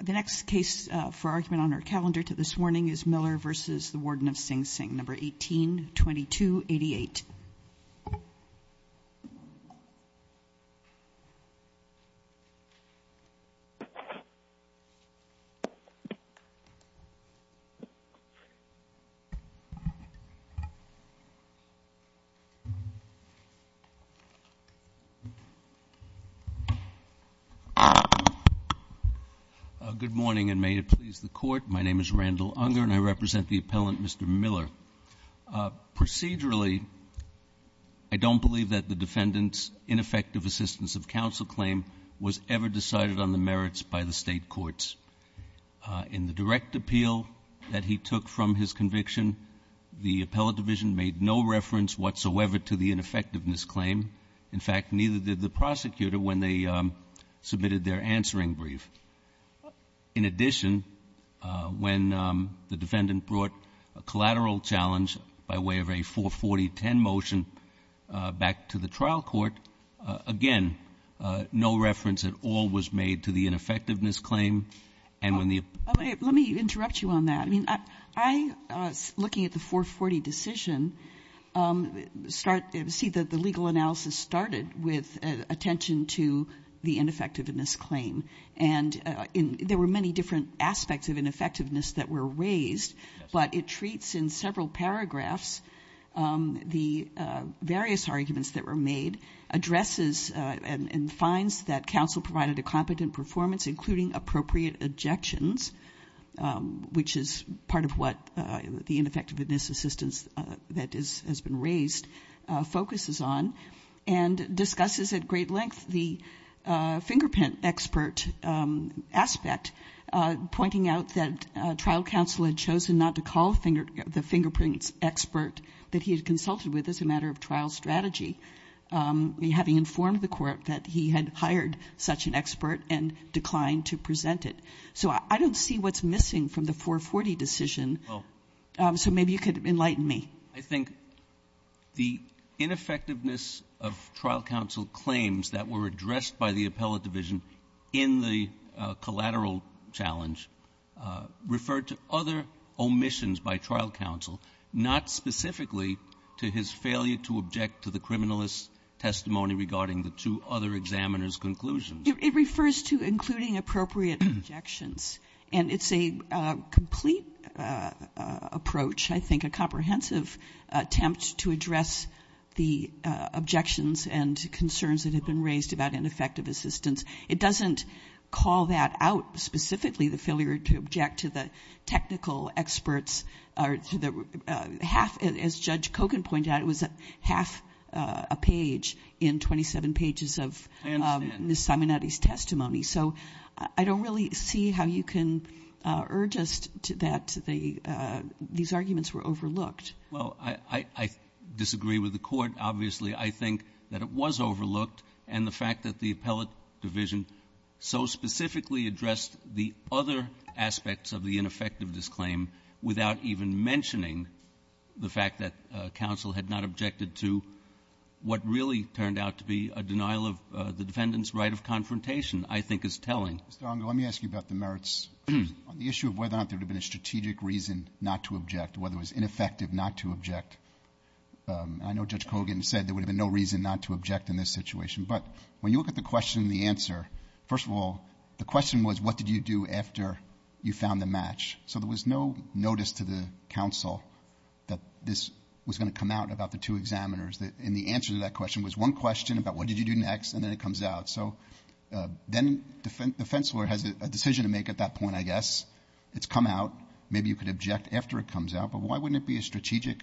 The next case for argument on our calendar to this morning is Miller v. Warden of Sing Sing, No. 18-2288. Good morning, and may it please the Court. My name is Randall Unger, and I represent the appellant, Mr. Miller. Procedurally, I don't believe that the defendant's ineffective assistance of counsel claim was ever decided on the merits by the State courts. In the direct appeal that he took from his conviction, the appellate division made no reference whatsoever to the ineffectiveness claim. In fact, neither did the prosecutor when they submitted their answering brief. In addition, when the defendant brought a collateral challenge by way of a 440-10 motion back to the trial court, again, no reference at all was made to the ineffectiveness claim. Let me interrupt you on that. I mean, I, looking at the 440 decision, see that the legal analysis started with attention to the ineffectiveness claim. And there were many different aspects of ineffectiveness that were raised, but it treats in several paragraphs the various arguments that were made, addresses and finds that counsel provided a competent performance, including appropriate objections, which is part of what the ineffectiveness assistance that has been raised focuses on, and discusses at great length the fingerprint expert aspect, pointing out that trial counsel had chosen not to call the fingerprint expert that he had consulted with as a matter of trial strategy, having informed the court that he had hired such an expert and declined to present it. So I don't see what's missing from the 440 decision. So maybe you could enlighten me. I think the ineffectiveness of trial counsel claims that were addressed by the appellate division in the collateral challenge referred to other omissions by trial counsel, not specifically to his failure to object to the criminalist's testimony regarding the two other examiners' conclusions. It refers to including appropriate objections. And it's a complete approach, I think, a comprehensive attempt to address the objections and concerns that have been raised about ineffective assistance. It doesn't call that out specifically, the failure to object to the technical experts. As Judge Kogan pointed out, it was half a page in 27 pages of Ms. Simonetti's testimony. So I don't really see how you can urge us that these arguments were overlooked. Well, I disagree with the Court, obviously. I think that it was overlooked. And the fact that the appellate division so specifically addressed the other aspects of the ineffective disclaim without even mentioning the fact that counsel had not objected to what really turned out to be a denial of the defendant's right of confrontation, I think is telling. Mr. Ongo, let me ask you about the merits. On the issue of whether or not there would have been a strategic reason not to object, whether it was ineffective not to object, I know Judge Kogan said there would have been no reason not to object in this situation. But when you look at the question and the answer, first of all, the question was, what did you do after you found the match? So there was no notice to the counsel that this was going to come out about the two examiners. And the answer to that question was one question about what did you do next, and then it comes out. So then the defense lawyer has a decision to make at that point, I guess. It's come out. Maybe you could object after it comes out. But why wouldn't it be a strategic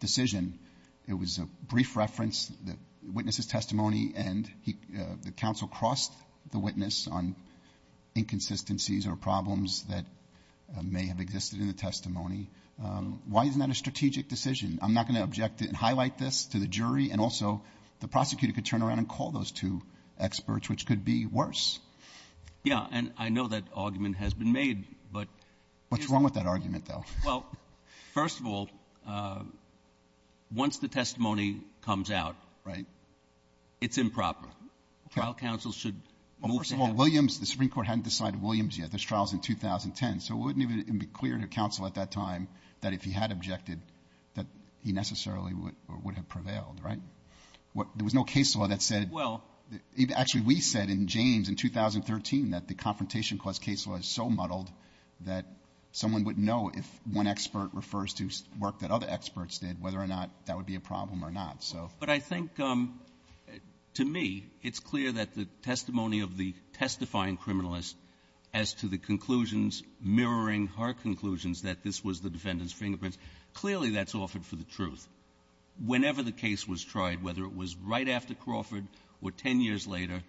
decision? It was a brief reference, the witness's testimony, and the counsel crossed the witness on inconsistencies or problems that may have existed in the testimony. Why isn't that a strategic decision? I'm not going to object and highlight this to the jury. And also, the prosecutor could turn around and call those two experts, which could be worse. Yeah. And I know that argument has been made, but here's the thing. What's wrong with that argument, though? Well, first of all, once the testimony comes out, it's improper. Trial counsel should move to have it. Well, first of all, Williams, the Supreme Court hadn't decided Williams yet. This trial is in 2010. So it wouldn't even be clear to counsel at that time that if he had objected, that he necessarily would have prevailed, right? There was no case law that said — Well — Actually, we said in James in 2013 that the Confrontation Clause case law is so muddled that someone wouldn't know if one expert refers to work that other experts did, whether or not that would be a problem or not. But I think, to me, it's clear that the testimony of the testifying criminalist as to the conclusions mirroring her conclusions that this was the defendant's fingerprints, clearly that's offered for the truth. Whenever the case was tried, whether it was right after Crawford or 10 years later,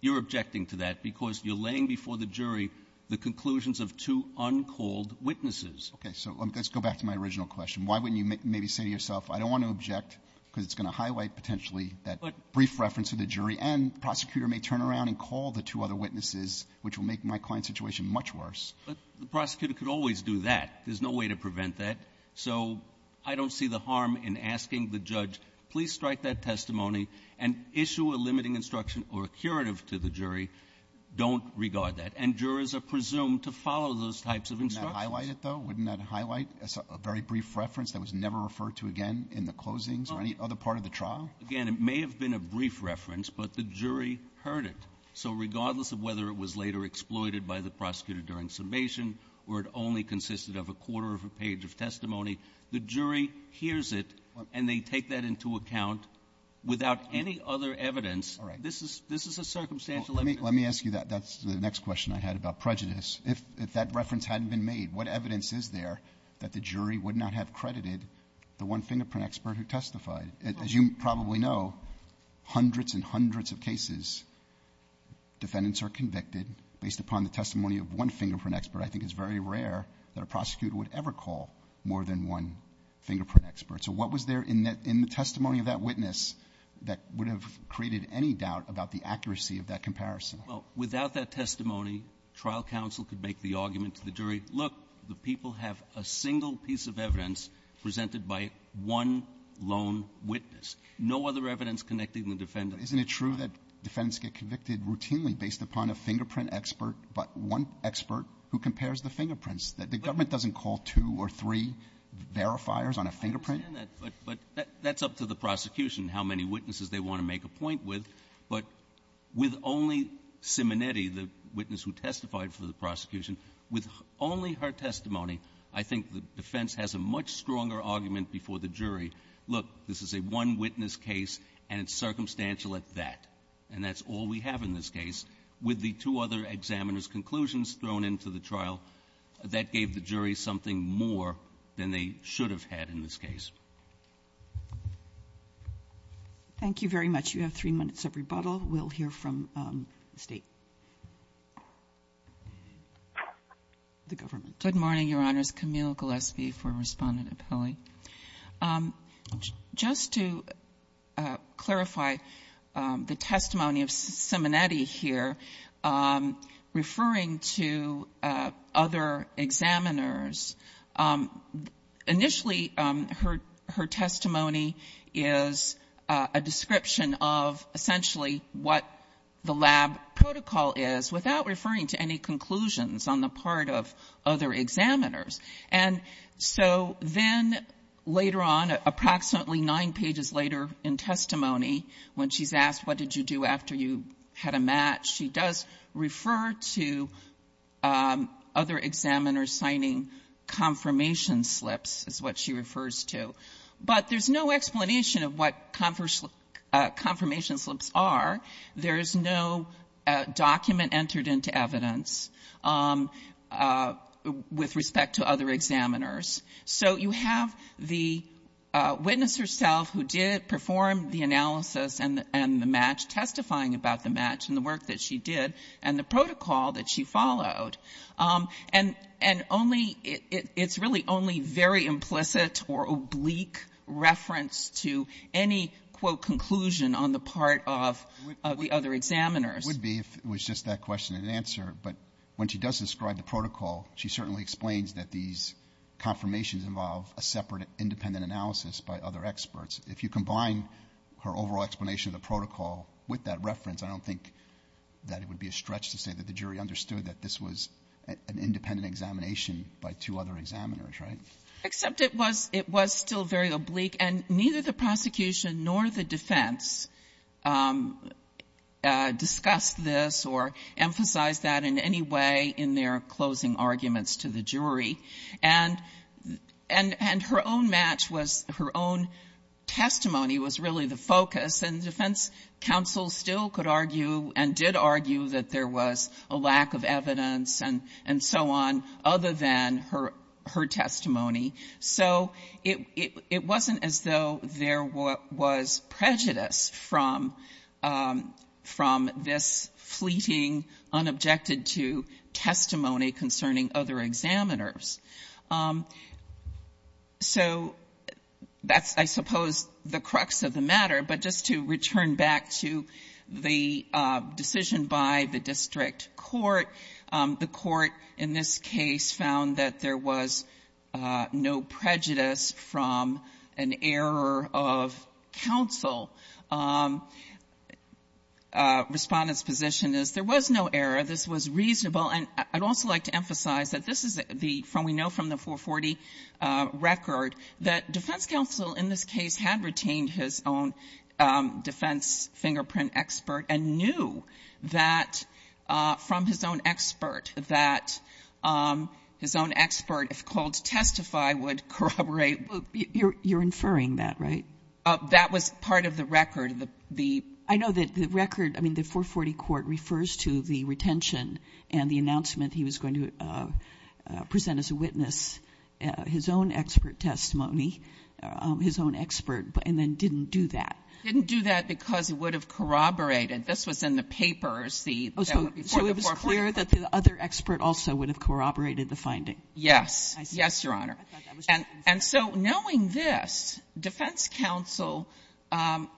you're objecting to that because you're laying before the jury the conclusions of two uncalled witnesses. Okay. So let's go back to my original question. Why wouldn't you maybe say to yourself, I don't want to object because it's going to highlight potentially that brief reference to the jury, and the prosecutor may turn around and call the two other witnesses, which will make my client's situation much worse. But the prosecutor could always do that. There's no way to prevent that. So I don't see the harm in asking the judge, please strike that testimony and issue a limiting instruction or a curative to the jury. Don't regard that. And jurors are presumed to follow those types of instructions. Wouldn't that highlight it, though? Wouldn't that highlight a very brief reference that was never referred to again in the closings or any other part of the trial? Again, it may have been a brief reference, but the jury heard it. So regardless of whether it was later exploited by the prosecutor during submission or it only consisted of a quarter of a page of testimony, the jury hears it and they take that into account without any other evidence. All right. This is a circumstantial evidence. Let me ask you that. That's the next question I had about prejudice. If that reference hadn't been made, what evidence is there that the jury would not have credited the one fingerprint expert who testified? As you probably know, hundreds and hundreds of cases, defendants are convicted based upon the testimony of one fingerprint expert. I think it's very rare that a prosecutor would ever call more than one fingerprint expert. So what was there in the testimony of that witness that would have created any doubt about the accuracy of that comparison? Well, without that testimony, trial counsel could make the argument to the jury, look, the people have a single piece of evidence presented by one lone witness, no other evidence connecting the defendant. But isn't it true that defendants get convicted routinely based upon a fingerprint expert, but one expert who compares the fingerprints, that the government doesn't call two or three verifiers on a fingerprint? I understand that, but that's up to the prosecution, how many witnesses they want to make a point with. But with only Simonetti, the witness who testified for the prosecution, with only her testimony, I think the defense has a much stronger argument before the jury, look, this is a one-witness case, and it's circumstantial at that. And that's all we have in this case. With the two other examiners' conclusions thrown into the trial, that gave the jury something more than they should have had in this case. Thank you very much. You have three minutes of rebuttal. We'll hear from the State. The government. Good morning, Your Honors. Camille Gillespie for Respondent Apelli. Just to clarify the testimony of Simonetti here, referring to other examiners, initially her testimony is a description of essentially what the lab protocol is without referring to any conclusions on the part of other examiners. And so then later on, approximately nine pages later in testimony, when she's asked what did you do after you had a match, she does refer to other examiners signing confirmation slips is what she refers to. But there's no explanation of what confirmation slips are. There's no document entered into evidence with respect to other examiners. So you have the witness herself who did perform the analysis and the match, testifying about the match and the work that she did and the protocol that she followed. And only — it's really only very implicit or oblique reference to any, quote, conclusion on the part of the other examiners. It would be if it was just that question and answer. But when she does describe the protocol, she certainly explains that these confirmations involve a separate independent analysis by other experts. If you combine her overall explanation of the protocol with that reference, I don't think that it would be a stretch to say that the jury understood that this was an independent examination by two other examiners, right? Except it was still very oblique. And neither the prosecution nor the defense discussed this or emphasized that in any way in their closing arguments to the jury. And her own match was — her own testimony was really the focus. And defense counsel still could argue and did argue that there was a lack of evidence and so on other than her testimony. So it wasn't as though there was prejudice from this fleeting, unobjected-to testimony concerning other examiners. So that's, I suppose, the crux of the matter. But just to return back to the decision by the district court, the court in this case found that there was no prejudice from an error of counsel. Respondent's position is there was no error. This was reasonable. And I'd also like to emphasize that this is the — we know from the 440 record that defense counsel in this case had retained his own defense fingerprint expert and knew that from his own expert that his own expert, if called to testify, would corroborate. You're inferring that, right? That was part of the record. The — I know that the record — I mean, the 440 court refers to the retention and the announcement that he was going to present as a witness his own expert testimony, his own expert, and then didn't do that. Didn't do that because it would have corroborated. This was in the papers, the — So it was clear that the other expert also would have corroborated the finding. Yes. Yes, Your Honor. And so knowing this, defense counsel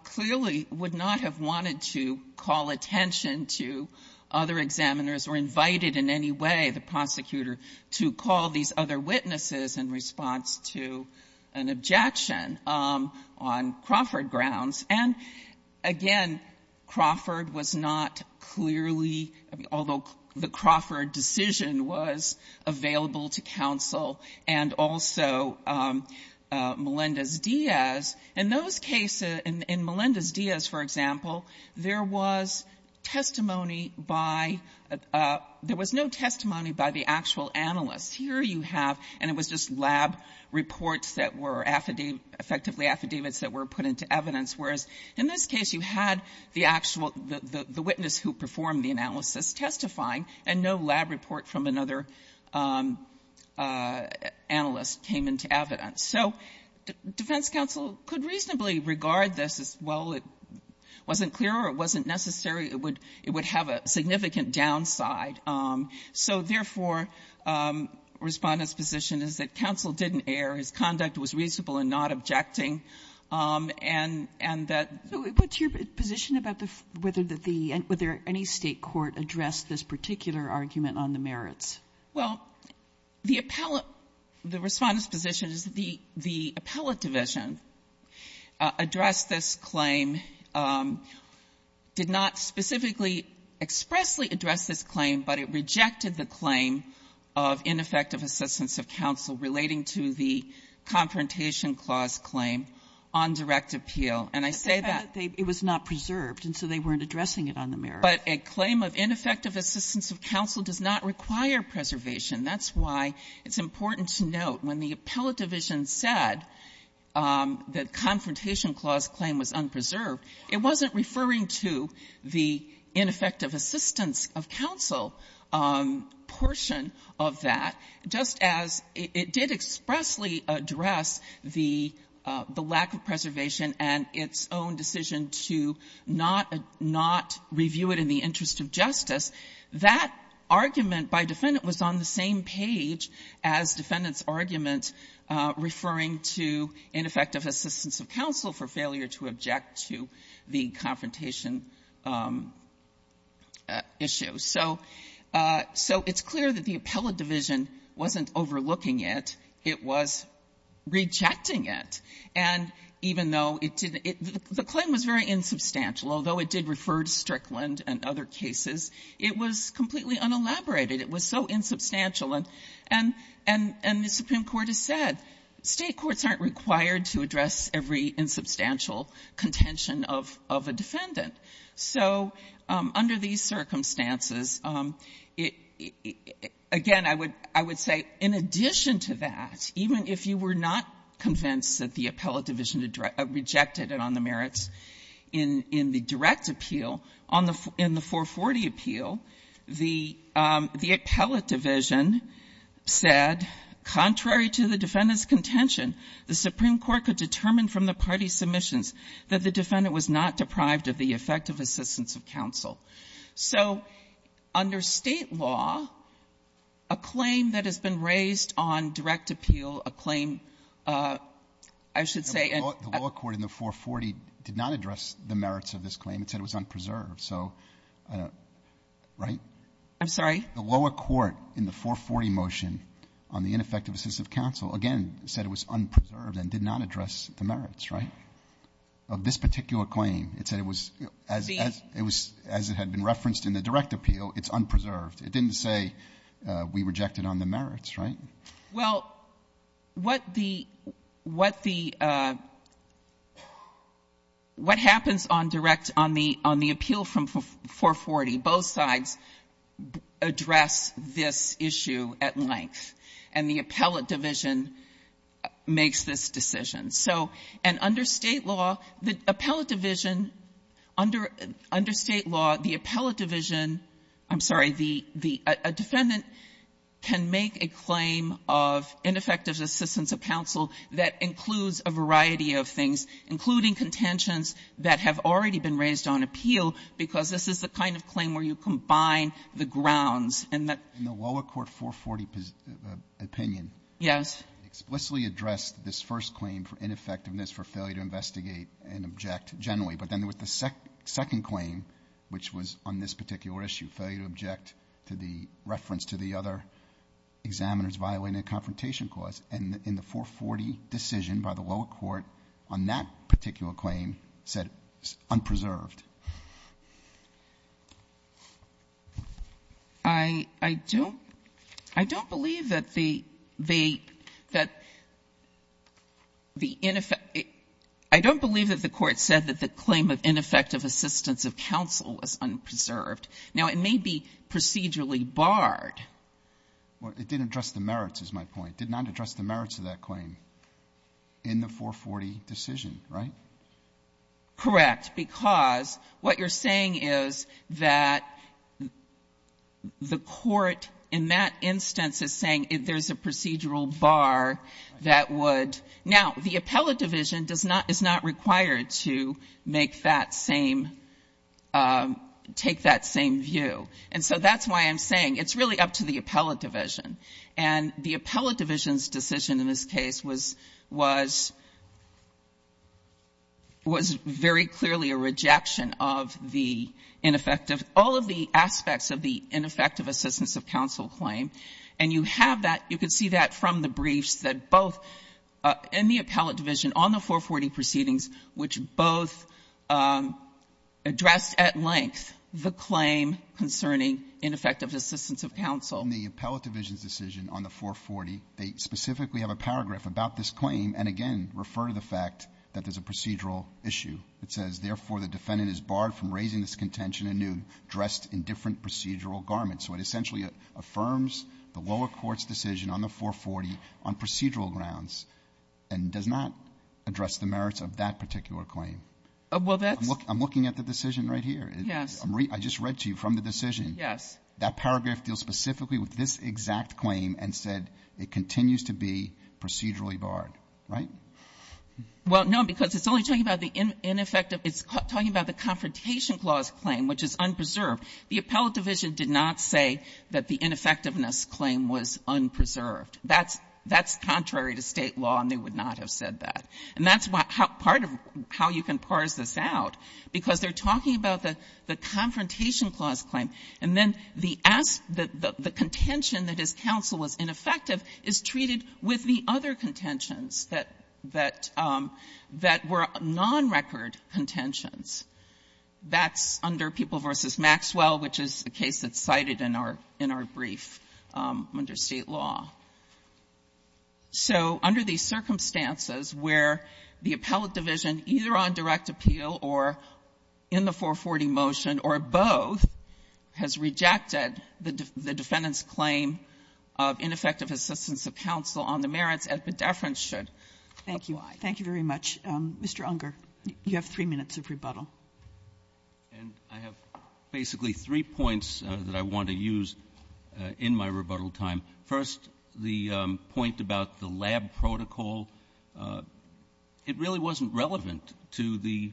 clearly would not have wanted to call attention to other examiners or invited in any way the prosecutor to call these other witnesses in response to an objection on Crawford grounds. And again, Crawford was not clearly — although the Crawford decision was available to counsel and also Melendez-Diaz, in those cases — in Melendez-Diaz, for example, there was testimony by — there was no testimony by the actual analyst. Here you have — and it was just lab reports that were affidavit — effectively affidavits that were put into evidence, whereas in this case, you had the actual — the witness who performed the analysis testifying, and no lab report from another analyst came into evidence. So defense counsel could reasonably regard this as, well, it wasn't clear or it wasn't necessary, it would — it would have a significant downside. So therefore, Respondent's position is that counsel didn't err, his conduct was reasonable in not objecting, and — and that — So what's your position about whether the — whether any State court addressed this particular argument on the merits? Well, the appellate — the Respondent's position is that the — the appellate division addressed this claim, did not specifically expressly address this claim, but it rejected the claim of ineffective assistance of counsel relating to the Confrontation Clause claim on direct appeal. And I say that — But they found that it was not preserved, and so they weren't addressing it on the merits. But a claim of ineffective assistance of counsel does not require preservation. That's why it's important to note when the appellate division said the Confrontation Clause claim was unpreserved, it wasn't referring to the ineffective assistance of counsel portion of that, just as it did expressly address the — the lack of preservation and its own decision to not — not review it in the interest of justice. That argument by Defendant was on the same page as Defendant's argument referring to ineffective assistance of counsel for failure to object to the confrontation issue. So — so it's clear that the appellate division wasn't overlooking it. It was rejecting it. And even though it didn't — the claim was very insubstantial. Although it did refer to Strickland and other cases, it was completely unelaborated. It was so insubstantial. And — and the Supreme Court has said State courts aren't required to address every insubstantial contention of a defendant. So under these circumstances, again, I would — I would say in addition to that, even if you were not convinced that the appellate division had rejected it on the merits, in — in the direct appeal, on the — in the 440 appeal, the — the appellate division said, contrary to the defendant's contention, the Supreme Court could determine from the party submissions that the defendant was not deprived of the effective assistance of counsel. So under State law, a claim that has been raised on direct appeal, a claim, I should say — Breyer. The lower court in the 440 did not address the merits of this claim. It said it was unpreserved. So, right? Blatt. I'm sorry? Breyer. The lower court in the 440 motion on the ineffective assistance of counsel, again, said it was unpreserved and did not address the merits, right, of this particular claim. It said it was — as it was — as it had been referenced in the direct appeal, it's unpreserved. It didn't say we rejected on the merits, right? Blatt. Well, what the — what the — what happens on direct — on the — on the appeal from 440, both sides address this issue at length, and the appellate division makes this decision. So — and under State law, the appellate division — under — under State law, the of ineffective assistance of counsel that includes a variety of things, including contentions that have already been raised on appeal, because this is the kind of claim where you combine the grounds and the — Breyer. In the lower court 440 opinion — Blatt. Yes. Breyer. — explicitly addressed this first claim for ineffectiveness for failure to investigate and object generally. But then with the second claim, which was on this particular issue, failure to object to the reference to the other examiners violating a confrontation clause, and in the 440 decision by the lower court on that particular claim, said it's unpreserved. Blatt. I — I don't — I don't believe that the — the — that the ineffective — I don't believe that the Court said that the claim of ineffective assistance of counsel is unpreserved. Now, it may be procedurally barred. Breyer. Well, it didn't address the merits, is my point. It did not address the merits of that claim in the 440 decision, right? Blatt. Correct. Because what you're saying is that the Court, in that instance, is saying there's a procedural bar that would — now, the appellate division does not require to make that same — take that same view. And so that's why I'm saying it's really up to the appellate division. And the appellate division's decision in this case was — was — was very clearly a rejection of the ineffective — all of the aspects of the ineffective assistance of counsel claim. And you have that — you can see that from the briefs that both in the appellate division on the 440 proceedings, which both addressed at length the claim concerning ineffective assistance of counsel. Breyer. In the appellate division's decision on the 440, they specifically have a paragraph about this claim and, again, refer to the fact that there's a procedural issue. It says, Therefore, the defendant is barred from raising this contention anew dressed in different procedural garments. So it essentially affirms the lower court's decision on the 440 on procedural grounds and does not address the merits of that particular claim. Well, that's — I'm looking at the decision right here. Yes. I just read to you from the decision. Yes. That paragraph deals specifically with this exact claim and said it continues to be procedurally barred, right? Well, no, because it's only talking about the ineffective — it's talking about the confrontation clause claim, which is unpreserved. The appellate division did not say that the ineffectiveness claim was unpreserved. That's contrary to State law, and they would not have said that. And that's part of how you can parse this out, because they're talking about the confrontation clause claim, and then the contention that his counsel was ineffective is treated with the other contentions that were non-record contentions. That's under People v. Maxwell, which is the case that's cited in our brief under State law. So under these circumstances where the appellate division, either on direct appeal or in the 440 motion or both, has rejected the defendant's claim of ineffective assistance of counsel on the merits, Epidephrin should — Thank you. Thank you very much. Mr. Unger, you have three minutes of rebuttal. And I have basically three points that I want to use in my rebuttal time. First, the point about the lab protocol. It really wasn't relevant to the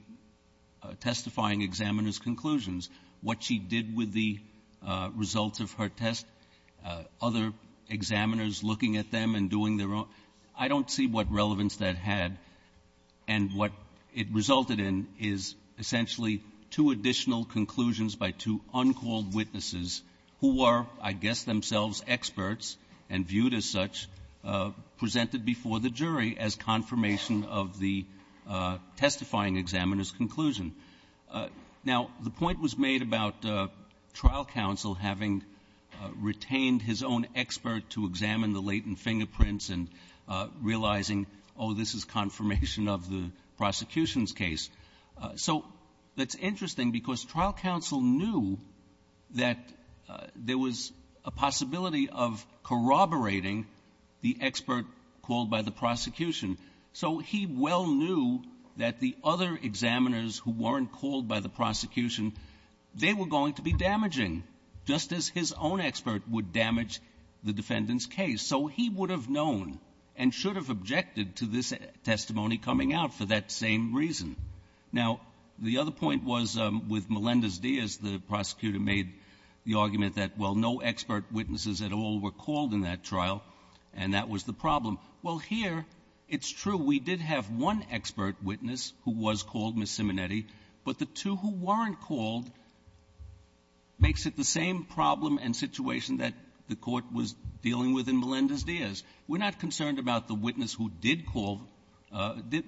testifying examiner's conclusions. What she did with the results of her test, other examiners looking at them and doing their own, I don't see what relevance that had. And what it resulted in is essentially two additional conclusions by two uncalled witnesses who are, I guess, themselves experts and viewed as such, presented before the jury as confirmation of the testifying examiner's conclusion. Now, the point was made about trial counsel having retained his own expert to examine the latent fingerprints and realizing, oh, this is confirmation of the prosecution's So that's interesting because trial counsel knew that there was a possibility of corroborating the expert called by the prosecution. So he well knew that the other examiners who weren't called by the prosecution, they were going to be damaging, just as his own expert would damage the defendant's case. So he would have known and should have objected to this testimony coming out for that same reason. Now, the other point was with Melendez-Diaz, the prosecutor made the argument that, well, no expert witnesses at all were called in that trial, and that was the problem. Well, here it's true. We did have one expert witness who was called, Ms. Simonetti, but the two who weren't called makes it the same problem and situation that the Court was dealing with in Melendez-Diaz. We're not concerned about the witness who did call,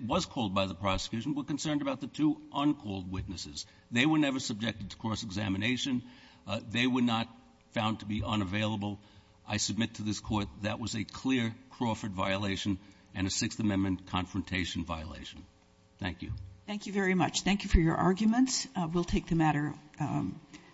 was called by the prosecution. We're concerned about the two uncalled witnesses. They were never subjected to cross-examination. They were not found to be unavailable. I submit to this Court that was a clear Crawford violation and a Sixth Amendment confrontation violation. Thank you. Thank you very much. Thank you for your arguments. We'll take the matter.